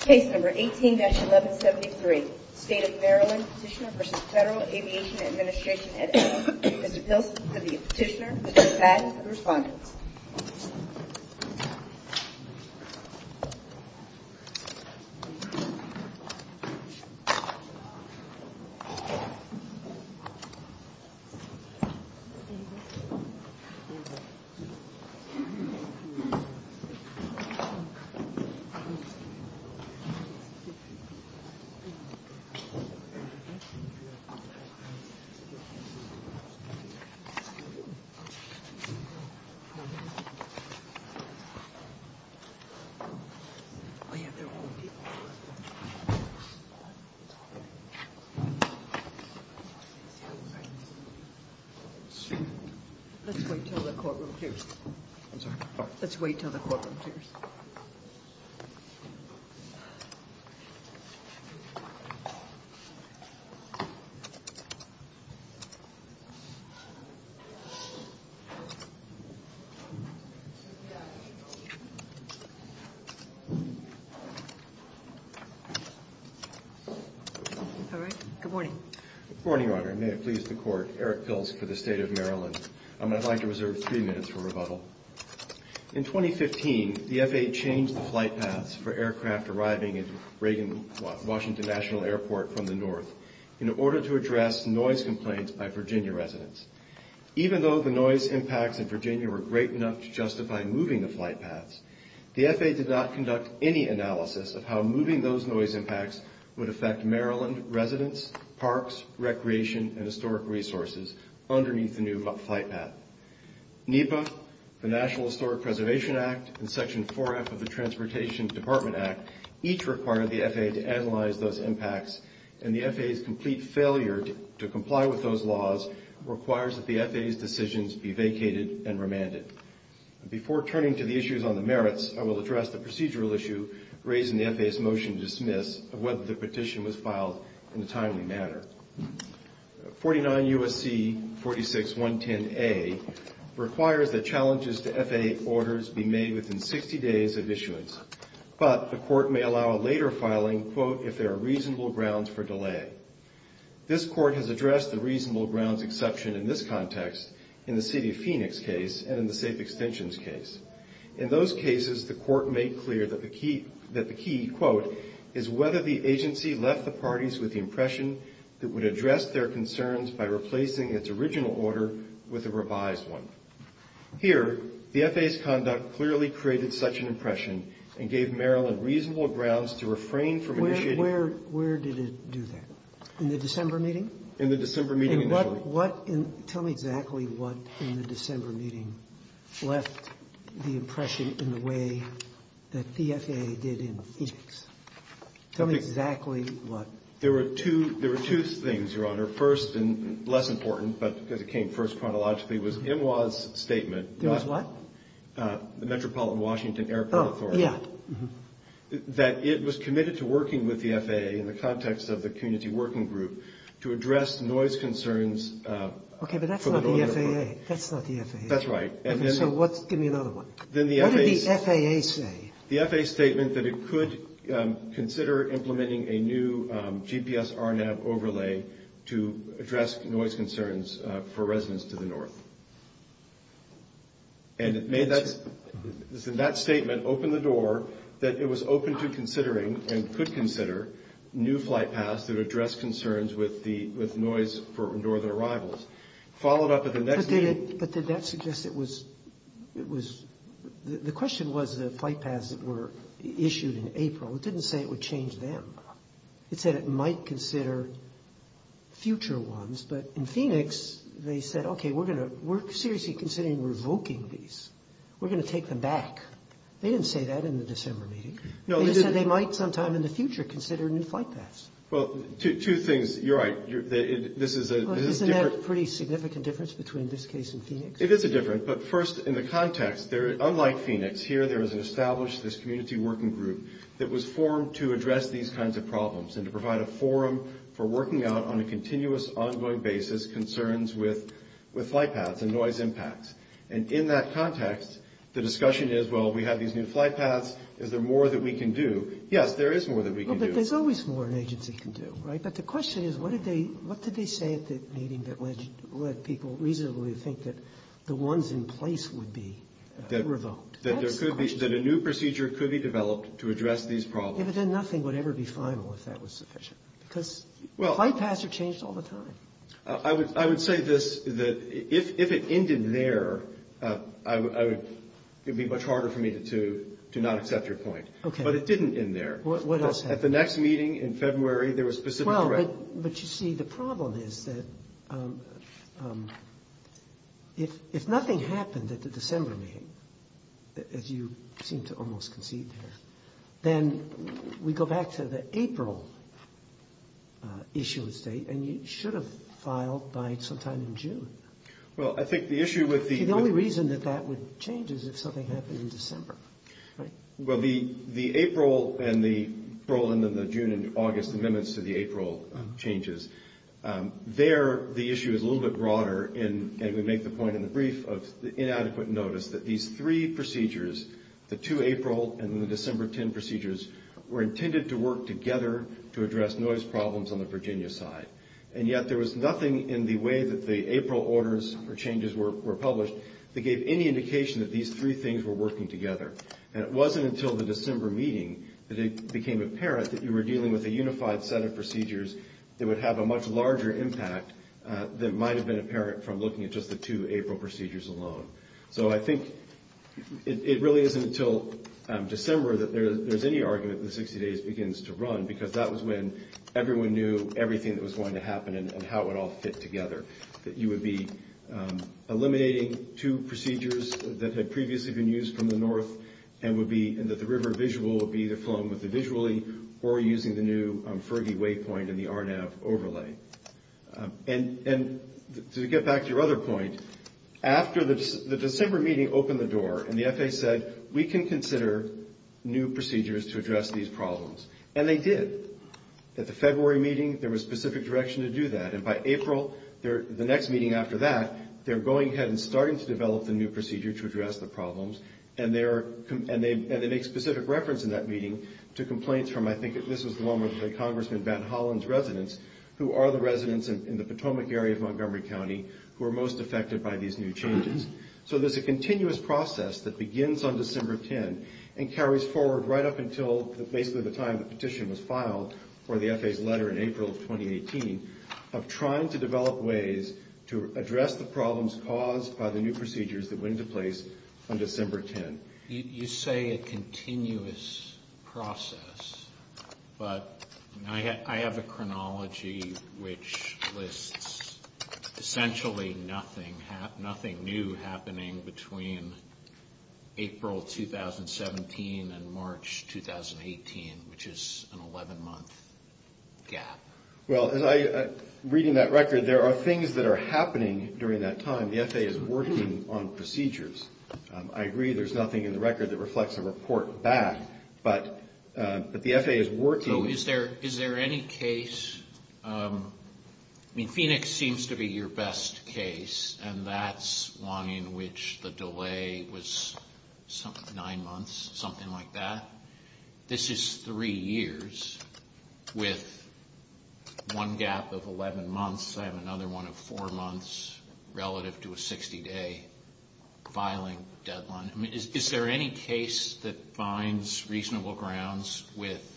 Case number 18-1173 State of Maryland Petitioner v. Federal Aviation Administration Mr. Pilsen to the petitioner, Mr. Pat to the respondent Mr. Pat to the respondent Good morning, Your Honor. May it please the Court, Eric Pilsen for the State of Maryland. I would like to reserve three minutes for rebuttal. In 2015, the FAA changed the flight paths for aircraft arriving at Reagan Washington National Airport from the north in order to address noise complaints by Virginia residents. Even though the noise impacts in Virginia were great enough to justify moving the flight paths, the FAA did not conduct any analysis of how moving those noise impacts would affect Maryland residents, parks, recreation, and historic resources underneath the new flight path. NEPA, the National Historic Preservation Act, and Section 4F of the Transportation Department Act each required the FAA to analyze those impacts, and the FAA's complete failure to comply with those laws requires that the FAA's decisions be vacated and remanded. Before turning to the issues on the merits, I will address the procedural issue raised in the FAA's motion to dismiss of whether the petition was filed in a timely manner. 49 U.S.C. 46110A requires that challenges to FAA orders be made within 60 days of issuance, but the Court may allow a later filing, quote, if there are reasonable grounds for delay. This Court has addressed the reasonable grounds exception in this context, in the City of Phoenix case and in the Safe Extensions case. In those cases, the Court made clear that the key, quote, is whether the agency left the parties with the impression that it would address their concerns by replacing its original order with a revised one. Here, the FAA's conduct clearly created such an impression and gave Maryland reasonable grounds to refrain from initiating Where did it do that? In the December meeting? In the December meeting initially. Tell me exactly what, in the December meeting, left the impression in the way that the FAA did in Phoenix. Tell me exactly what. There were two things, Your Honor. First, and less important, but because it came first chronologically, was MWA's statement. It was what? The Metropolitan Washington Airport Authority. Oh, yeah. That it was committed to working with the FAA in the context of the community working group to address noise concerns. Okay, but that's not the FAA. That's not the FAA. That's right. Give me another one. What did the FAA say? The FAA statement that it could consider implementing a new GPS RNAV overlay to address noise concerns for residents to the north. And it made that statement open the door that it was open to considering and could consider new flight paths that address concerns with noise for northern arrivals. Followed up at the next meeting... But did that suggest it was... The question was the flight paths that were issued in April. It didn't say it would change them. It said it might consider future ones. But in Phoenix, they said, okay, we're seriously considering revoking these. We're going to take them back. They didn't say that in the December meeting. They said they might sometime in the future consider new flight paths. Well, two things. You're right. This is a different... Isn't that a pretty significant difference between this case and Phoenix? It is a different, but first, in the context, unlike Phoenix, here there is an established community working group that was formed to address these kinds of problems and to provide a forum for working out on a continuous, ongoing basis concerns with flight paths and noise impacts. And in that context, the discussion is, well, we have these new flight paths. Is there more that we can do? Yes, there is more that we can do. Well, but there's always more an agency can do, right? But the question is, what did they say at the meeting that led people reasonably to think that the ones in place would be revoked? That a new procedure could be developed to address these problems. Yeah, but then nothing would ever be final if that was sufficient because flight paths are changed all the time. I would say this, that if it ended there, it would be much harder for me to not accept your point. Okay. But it didn't end there. What else happened? At the next meeting in February, there was specific threat. But you see, the problem is that if nothing happened at the December meeting, as you seem to almost concede here, then we go back to the April issue of state and you should have filed by sometime in June. Well, I think the issue with the- The only reason that that would change is if something happened in December, right? Well, the April and then the June and August amendments to the April changes, there the issue is a little bit broader and we make the point in the brief of inadequate notice that these three procedures, the 2 April and the December 10 procedures, were intended to work together to address noise problems on the Virginia side. And yet there was nothing in the way that the April orders or changes were published that gave any indication that these three things were working together. And it wasn't until the December meeting that it became apparent that you were dealing with a unified set of procedures that would have a much larger impact than might have been apparent from looking at just the 2 April procedures alone. So I think it really isn't until December that there's any argument that 60 days begins to run because that was when everyone knew everything that was going to happen and how it would all fit together. That you would be eliminating two procedures that had previously been used from the north and that the river visual would be either flowing with the visually or using the new Fergie waypoint and the RNAV overlay. And to get back to your other point, after the December meeting opened the door and the FAA said, we can consider new procedures to address these problems, and they did. At the February meeting there was specific direction to do that and by April, the next meeting after that, they're going ahead and starting to develop the new procedure to address the problems. And they make specific reference in that meeting to complaints from, I think, this was the one with Congressman Van Hollen's residence, who are the residents in the Potomac area of Montgomery County who are most affected by these new changes. So there's a continuous process that begins on December 10 and carries forward right up until basically the time the petition was filed for the FAA's letter in April of 2018 of trying to develop ways to address the problems caused by the new procedures that went into place on December 10. You say a continuous process, but I have a chronology which lists essentially nothing new happening between April 2017 and March 2018, which is an 11-month gap. Well, reading that record, there are things that are happening during that time. The FAA is working on procedures. I agree there's nothing in the record that reflects a report back, but the FAA is working. So is there any case? Phoenix seems to be your best case, and that's one in which the delay was nine months, something like that. This is three years with one gap of 11 months. I have another one of four months relative to a 60-day filing deadline. I mean, is there any case that finds reasonable grounds with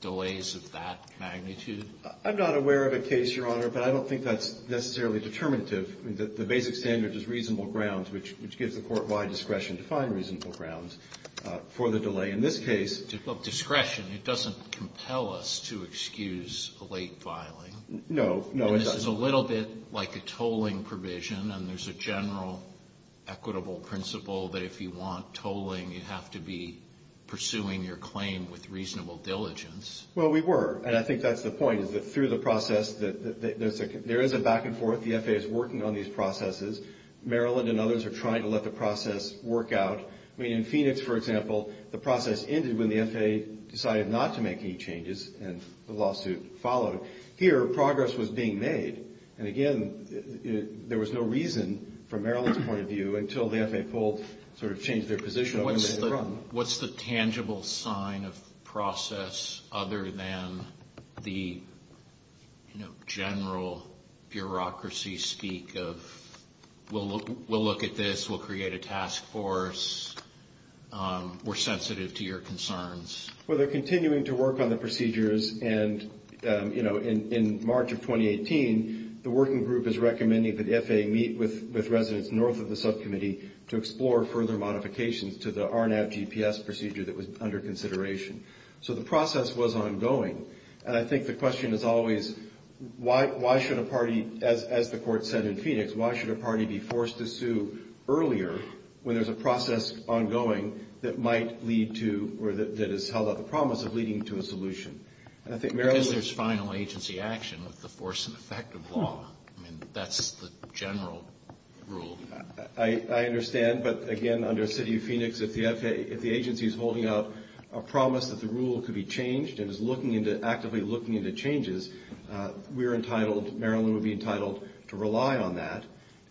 delays of that magnitude? I'm not aware of a case, Your Honor, but I don't think that's necessarily determinative. The basic standard is reasonable grounds, which gives the court wide discretion to find reasonable grounds for the delay. In this case of discretion, it doesn't compel us to excuse a late filing. No, no. This is a little bit like a tolling provision, and there's a general equitable principle that if you want tolling, you have to be pursuing your claim with reasonable diligence. Well, we were, and I think that's the point, is that through the process, there is a back and forth. The FAA is working on these processes. Maryland and others are trying to let the process work out. I mean, in Phoenix, for example, the process ended when the FAA decided not to make any changes, and the lawsuit followed. Here, progress was being made. And again, there was no reason, from Maryland's point of view, until the FAA pulled, sort of changed their position. What's the tangible sign of process other than the, you know, general bureaucracy speak of we'll look at this, we'll create a task force, we're sensitive to your concerns? Well, they're continuing to work on the procedures, and, you know, in March of 2018, the working group is recommending that the FAA meet with residents north of the subcommittee to explore further modifications to the RNAV GPS procedure that was under consideration. So the process was ongoing. And I think the question is always, why should a party, as the court said in Phoenix, why should a party be forced to sue earlier when there's a process ongoing that might lead to, or that has held up the promise of leading to a solution? Because there's final agency action with the force and effect of law. I mean, that's the general rule. I understand. But, again, under the city of Phoenix, if the agency is holding up a promise that the rule could be changed and is looking into, actively looking into changes, we're entitled, Maryland would be entitled to rely on that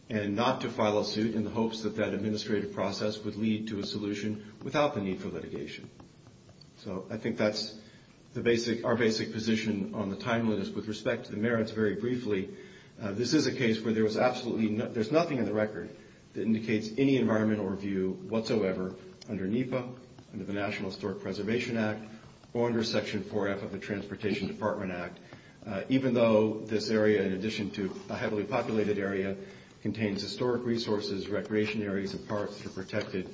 and not to file a suit in the hopes that that administrative process would lead to a solution without the need for litigation. So I think that's the basic, our basic position on the timeline is with respect to the merits very briefly, this is a case where there was absolutely, there's nothing in the record that indicates any environmental review whatsoever under NEPA, under the National Historic Preservation Act, or under Section 4F of the Transportation Department Act, even though this area, in addition to a heavily populated area, contains historic resources, recreation areas, and parks that are protected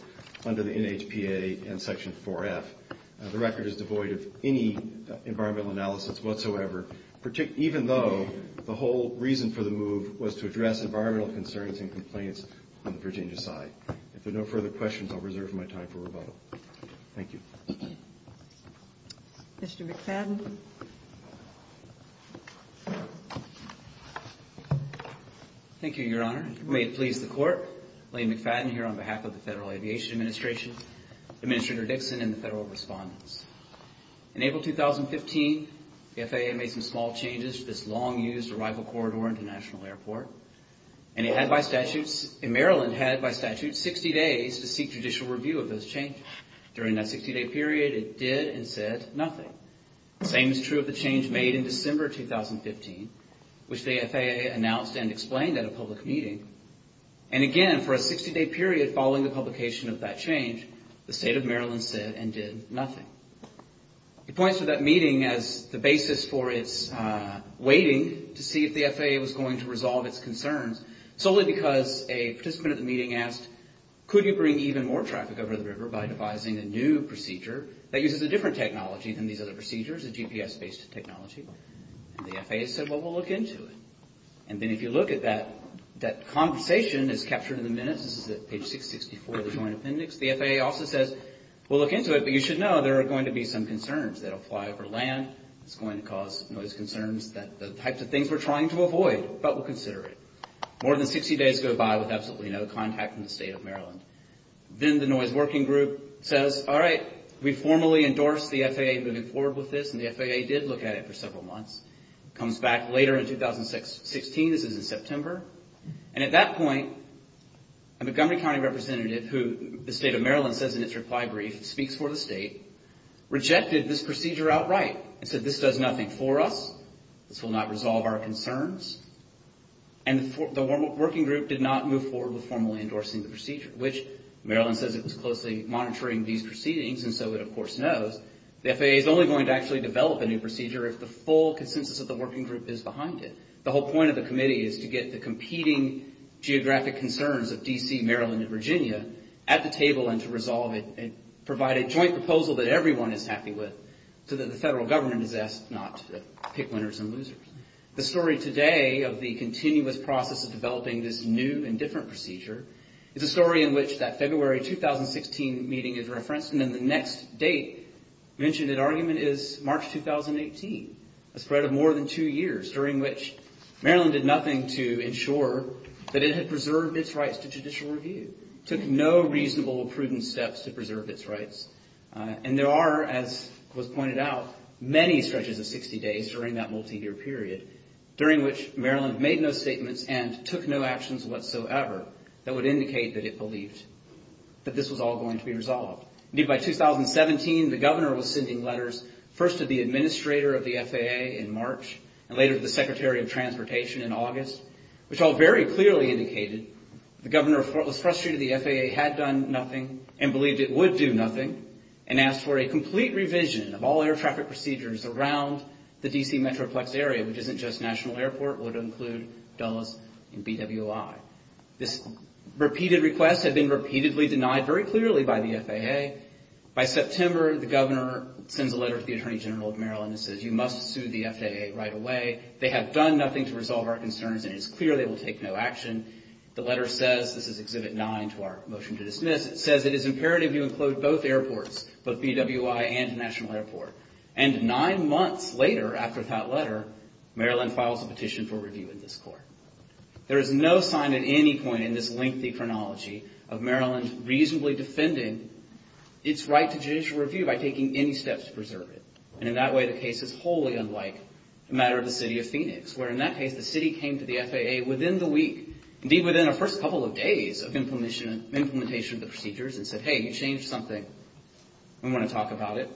under the NHPA and Section 4F. The record is devoid of any environmental analysis whatsoever, even though the whole reason for the move was to address environmental concerns and complaints on the Virginia side. If there are no further questions, I'll reserve my time for rebuttal. Thank you. Mr. McFadden. Thank you, Your Honor. May it please the Court, Lane McFadden here on behalf of the Federal Aviation Administration, Administrator Dixon, and the Federal Respondents. In April 2015, the FAA made some small changes to this long-used arrival corridor into National Airport, and Maryland had by statute 60 days to seek judicial review of those changes. During that 60-day period, it did and said nothing. The same is true of the change made in December 2015, which the FAA announced and explained at a public meeting. And again, for a 60-day period following the publication of that change, the State of Maryland said and did nothing. It points to that meeting as the basis for its waiting to see if the FAA was going to resolve its concerns, solely because a participant at the meeting asked, could you bring even more traffic over the river by devising a new procedure that uses a different technology than these other procedures, a GPS-based technology? And the FAA said, well, we'll look into it. And then if you look at that, that conversation is captured in the minutes. This is at page 664 of the Joint Appendix. The FAA also says, we'll look into it, but you should know there are going to be some concerns. They'll fly over land. It's going to cause noise concerns, the types of things we're trying to avoid, but we'll consider it. More than 60 days go by with absolutely no contact from the State of Maryland. Then the noise working group says, all right, we formally endorse the FAA moving forward with this, and the FAA did look at it for several months. It comes back later in 2016. This is in September. And at that point, a Montgomery County representative who the State of Maryland says in its reply brief speaks for the state, rejected this procedure outright and said, this does nothing for us. This will not resolve our concerns. And the working group did not move forward with formally endorsing the procedure, which Maryland says it was closely monitoring these proceedings, and so it, of course, knows. The FAA is only going to actually develop a new procedure if the full consensus of the working group is behind it. The whole point of the committee is to get the competing geographic concerns of D.C., Maryland, and Virginia at the table and to resolve it and provide a joint proposal that everyone is happy with, so that the federal government is asked not to pick winners and losers. The story today of the continuous process of developing this new and different procedure is a story in which that February 2016 meeting is referenced, and then the next date mentioned in argument is March 2018, a spread of more than two years, during which Maryland did nothing to ensure that it had preserved its rights to judicial review, took no reasonable, prudent steps to preserve its rights. And there are, as was pointed out, many stretches of 60 days during that multi-year period during which Maryland made no statements and took no actions whatsoever that would indicate that it believed that this was all going to be resolved. Indeed, by 2017, the governor was sending letters, first to the administrator of the FAA in March, and later to the secretary of transportation in August, which all very clearly indicated the governor was frustrated the FAA had done nothing and believed it would do nothing, and asked for a complete revision of all air traffic procedures around the D.C. Metroplex area, which isn't just National Airport, would include Dulles and BWI. This repeated request had been repeatedly denied very clearly by the FAA. By September, the governor sends a letter to the attorney general of Maryland and says you must sue the FAA right away. They have done nothing to resolve our concerns, and it is clear they will take no action. The letter says, this is Exhibit 9 to our motion to dismiss, it says it is imperative you include both airports, both BWI and National Airport. And nine months later, after that letter, Maryland files a petition for review in this court. There is no sign at any point in this lengthy chronology of Maryland reasonably defending its right to judicial review by taking any steps to preserve it. And in that way, the case is wholly unlike the matter of the city of Phoenix, where in that case, the city came to the FAA within the week, indeed within the first couple of days of implementation of the procedures, and said, hey, you changed something. We want to talk about it.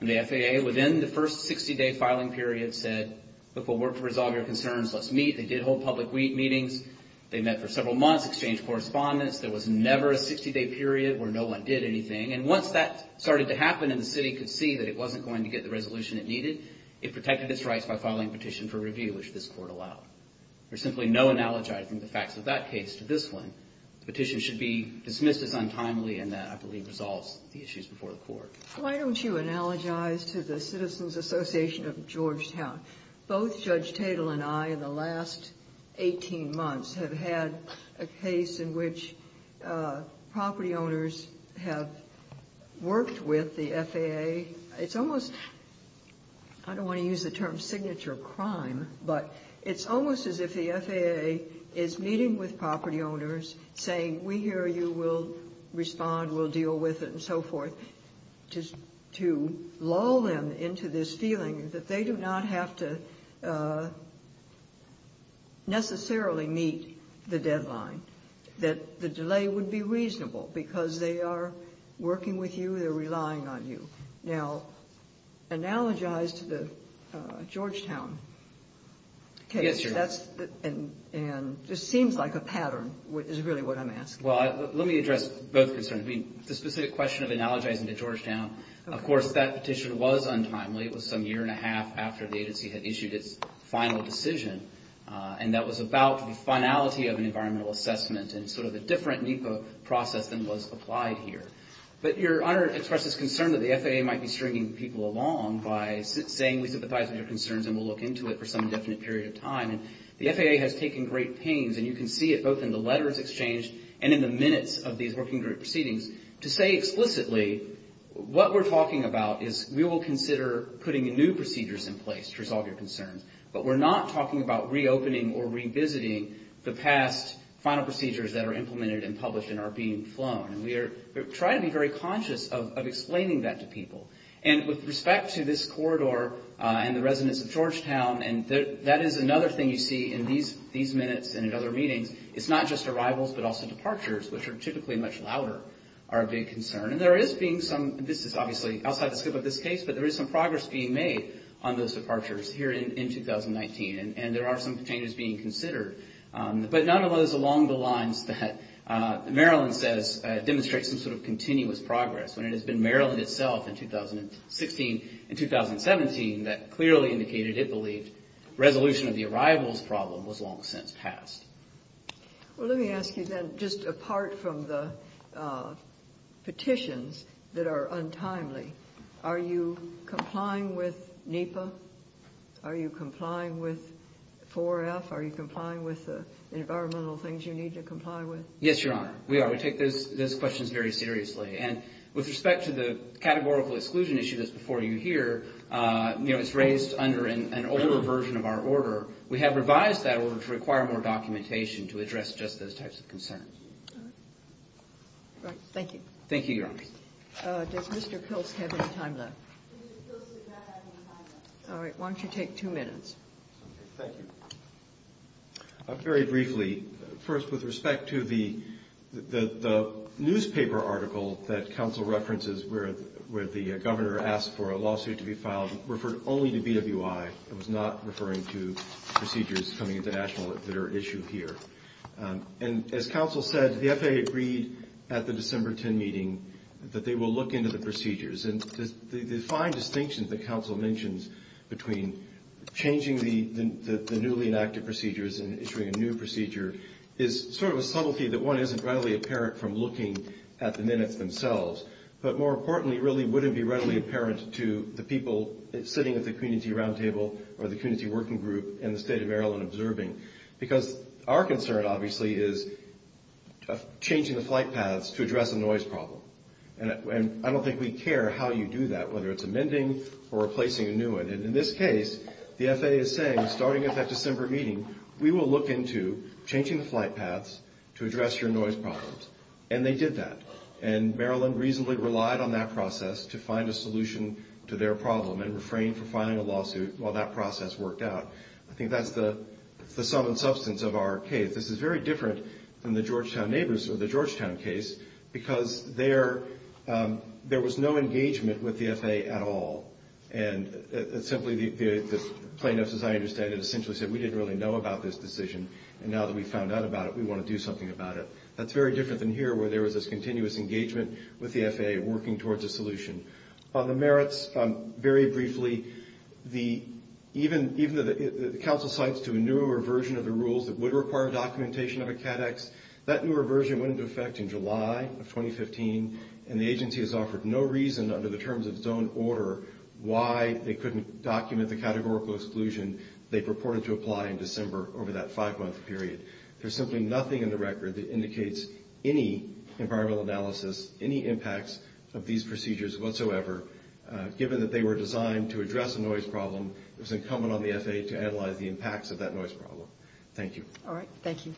And the FAA, within the first 60-day filing period, said, look, we'll work to resolve your concerns, let's meet. They did hold public meetings. They met for several months, exchanged correspondence. There was never a 60-day period where no one did anything. And once that started to happen and the city could see that it wasn't going to get the resolution it needed, it protected its rights by filing a petition for review, which this court allowed. There's simply no analogizing the facts of that case to this one. The petition should be dismissed as untimely, and that, I believe, resolves the issues before the court. Why don't you analogize to the Citizens Association of Georgetown? Both Judge Tatel and I, in the last 18 months, have had a case in which property owners have worked with the FAA. It's almost – I don't want to use the term signature crime, but it's almost as if the FAA is meeting with property owners, saying, we hear you, we'll respond, we'll deal with it, and so forth. To lull them into this feeling that they do not have to necessarily meet the deadline, that the delay would be reasonable because they are working with you, they're relying on you. Now, analogize to the Georgetown case. Yes, Your Honor. And it seems like a pattern is really what I'm asking. Well, let me address both concerns. I mean, the specific question of analogizing to Georgetown, of course, that petition was untimely. It was some year and a half after the agency had issued its final decision, and that was about the finality of an environmental assessment and sort of a different NEPA process than was applied here. But Your Honor expressed this concern that the FAA might be stringing people along by saying, we sympathize with your concerns and we'll look into it for some indefinite period of time. And the FAA has taken great pains, and you can see it both in the letters exchanged and in the minutes of these working group proceedings, to say explicitly what we're talking about is we will consider putting new procedures in place to resolve your concerns, but we're not talking about reopening or revisiting the past final procedures that are implemented and published and are being flown. And we try to be very conscious of explaining that to people. And with respect to this corridor and the residents of Georgetown, and that is another thing you see in these minutes and in other meetings, it's not just arrivals but also departures, which are typically much louder, are a big concern. And there is being some, this is obviously outside the scope of this case, but there is some progress being made on those departures here in 2019, and there are some changes being considered. But none of those along the lines that Maryland says demonstrates some sort of continuous progress, when it has been Maryland itself in 2016 and 2017 that clearly indicated it believed resolution of the arrivals problem was long since passed. Well, let me ask you then, just apart from the petitions that are untimely, are you complying with NEPA? Are you complying with 4F? Are you complying with the environmental things you need to comply with? Yes, Your Honor, we are. We take those questions very seriously. And with respect to the categorical exclusion issue that's before you here, it's raised under an older version of our order. We have revised that order to require more documentation to address just those types of concerns. Thank you. Thank you, Your Honor. Does Mr. Kilst have any time left? Mr. Kilst does not have any time left. All right, why don't you take two minutes. Thank you. Very briefly, first with respect to the newspaper article that counsel references where the governor asked for a lawsuit to be filed, referred only to BWI. It was not referring to procedures coming international that are at issue here. And as counsel said, the FAA agreed at the December 10 meeting that they will look into the procedures. And the fine distinction that counsel mentions between changing the newly enacted procedures and issuing a new procedure is sort of a subtlety that one isn't readily apparent from looking at the minutes themselves. But more importantly, it really wouldn't be readily apparent to the people sitting at the community roundtable or the community working group in the state of Maryland observing. Because our concern, obviously, is changing the flight paths to address a noise problem. And I don't think we care how you do that, whether it's amending or replacing a new one. And in this case, the FAA is saying, starting at that December meeting, we will look into changing the flight paths to address your noise problems. And they did that. And Maryland reasonably relied on that process to find a solution to their problem and refrained from filing a lawsuit while that process worked out. I think that's the sum and substance of our case. This is very different from the Georgetown neighbors or the Georgetown case, because there was no engagement with the FAA at all. And simply the plaintiffs, as I understand it, essentially said, we didn't really know about this decision. And now that we've found out about it, we want to do something about it. That's very different than here, where there was this continuous engagement with the FAA, working towards a solution. On the merits, very briefly, the council cites to a newer version of the rules that would require documentation of a CADEX. That newer version went into effect in July of 2015, and the agency has offered no reason under the terms of its own order why they couldn't document the categorical exclusion they purported to apply in December over that five-month period. There's simply nothing in the record that indicates any environmental analysis, any impacts of these procedures whatsoever. Given that they were designed to address a noise problem, it was incumbent on the FAA to analyze the impacts of that noise problem. Thank you. All right. Thank you.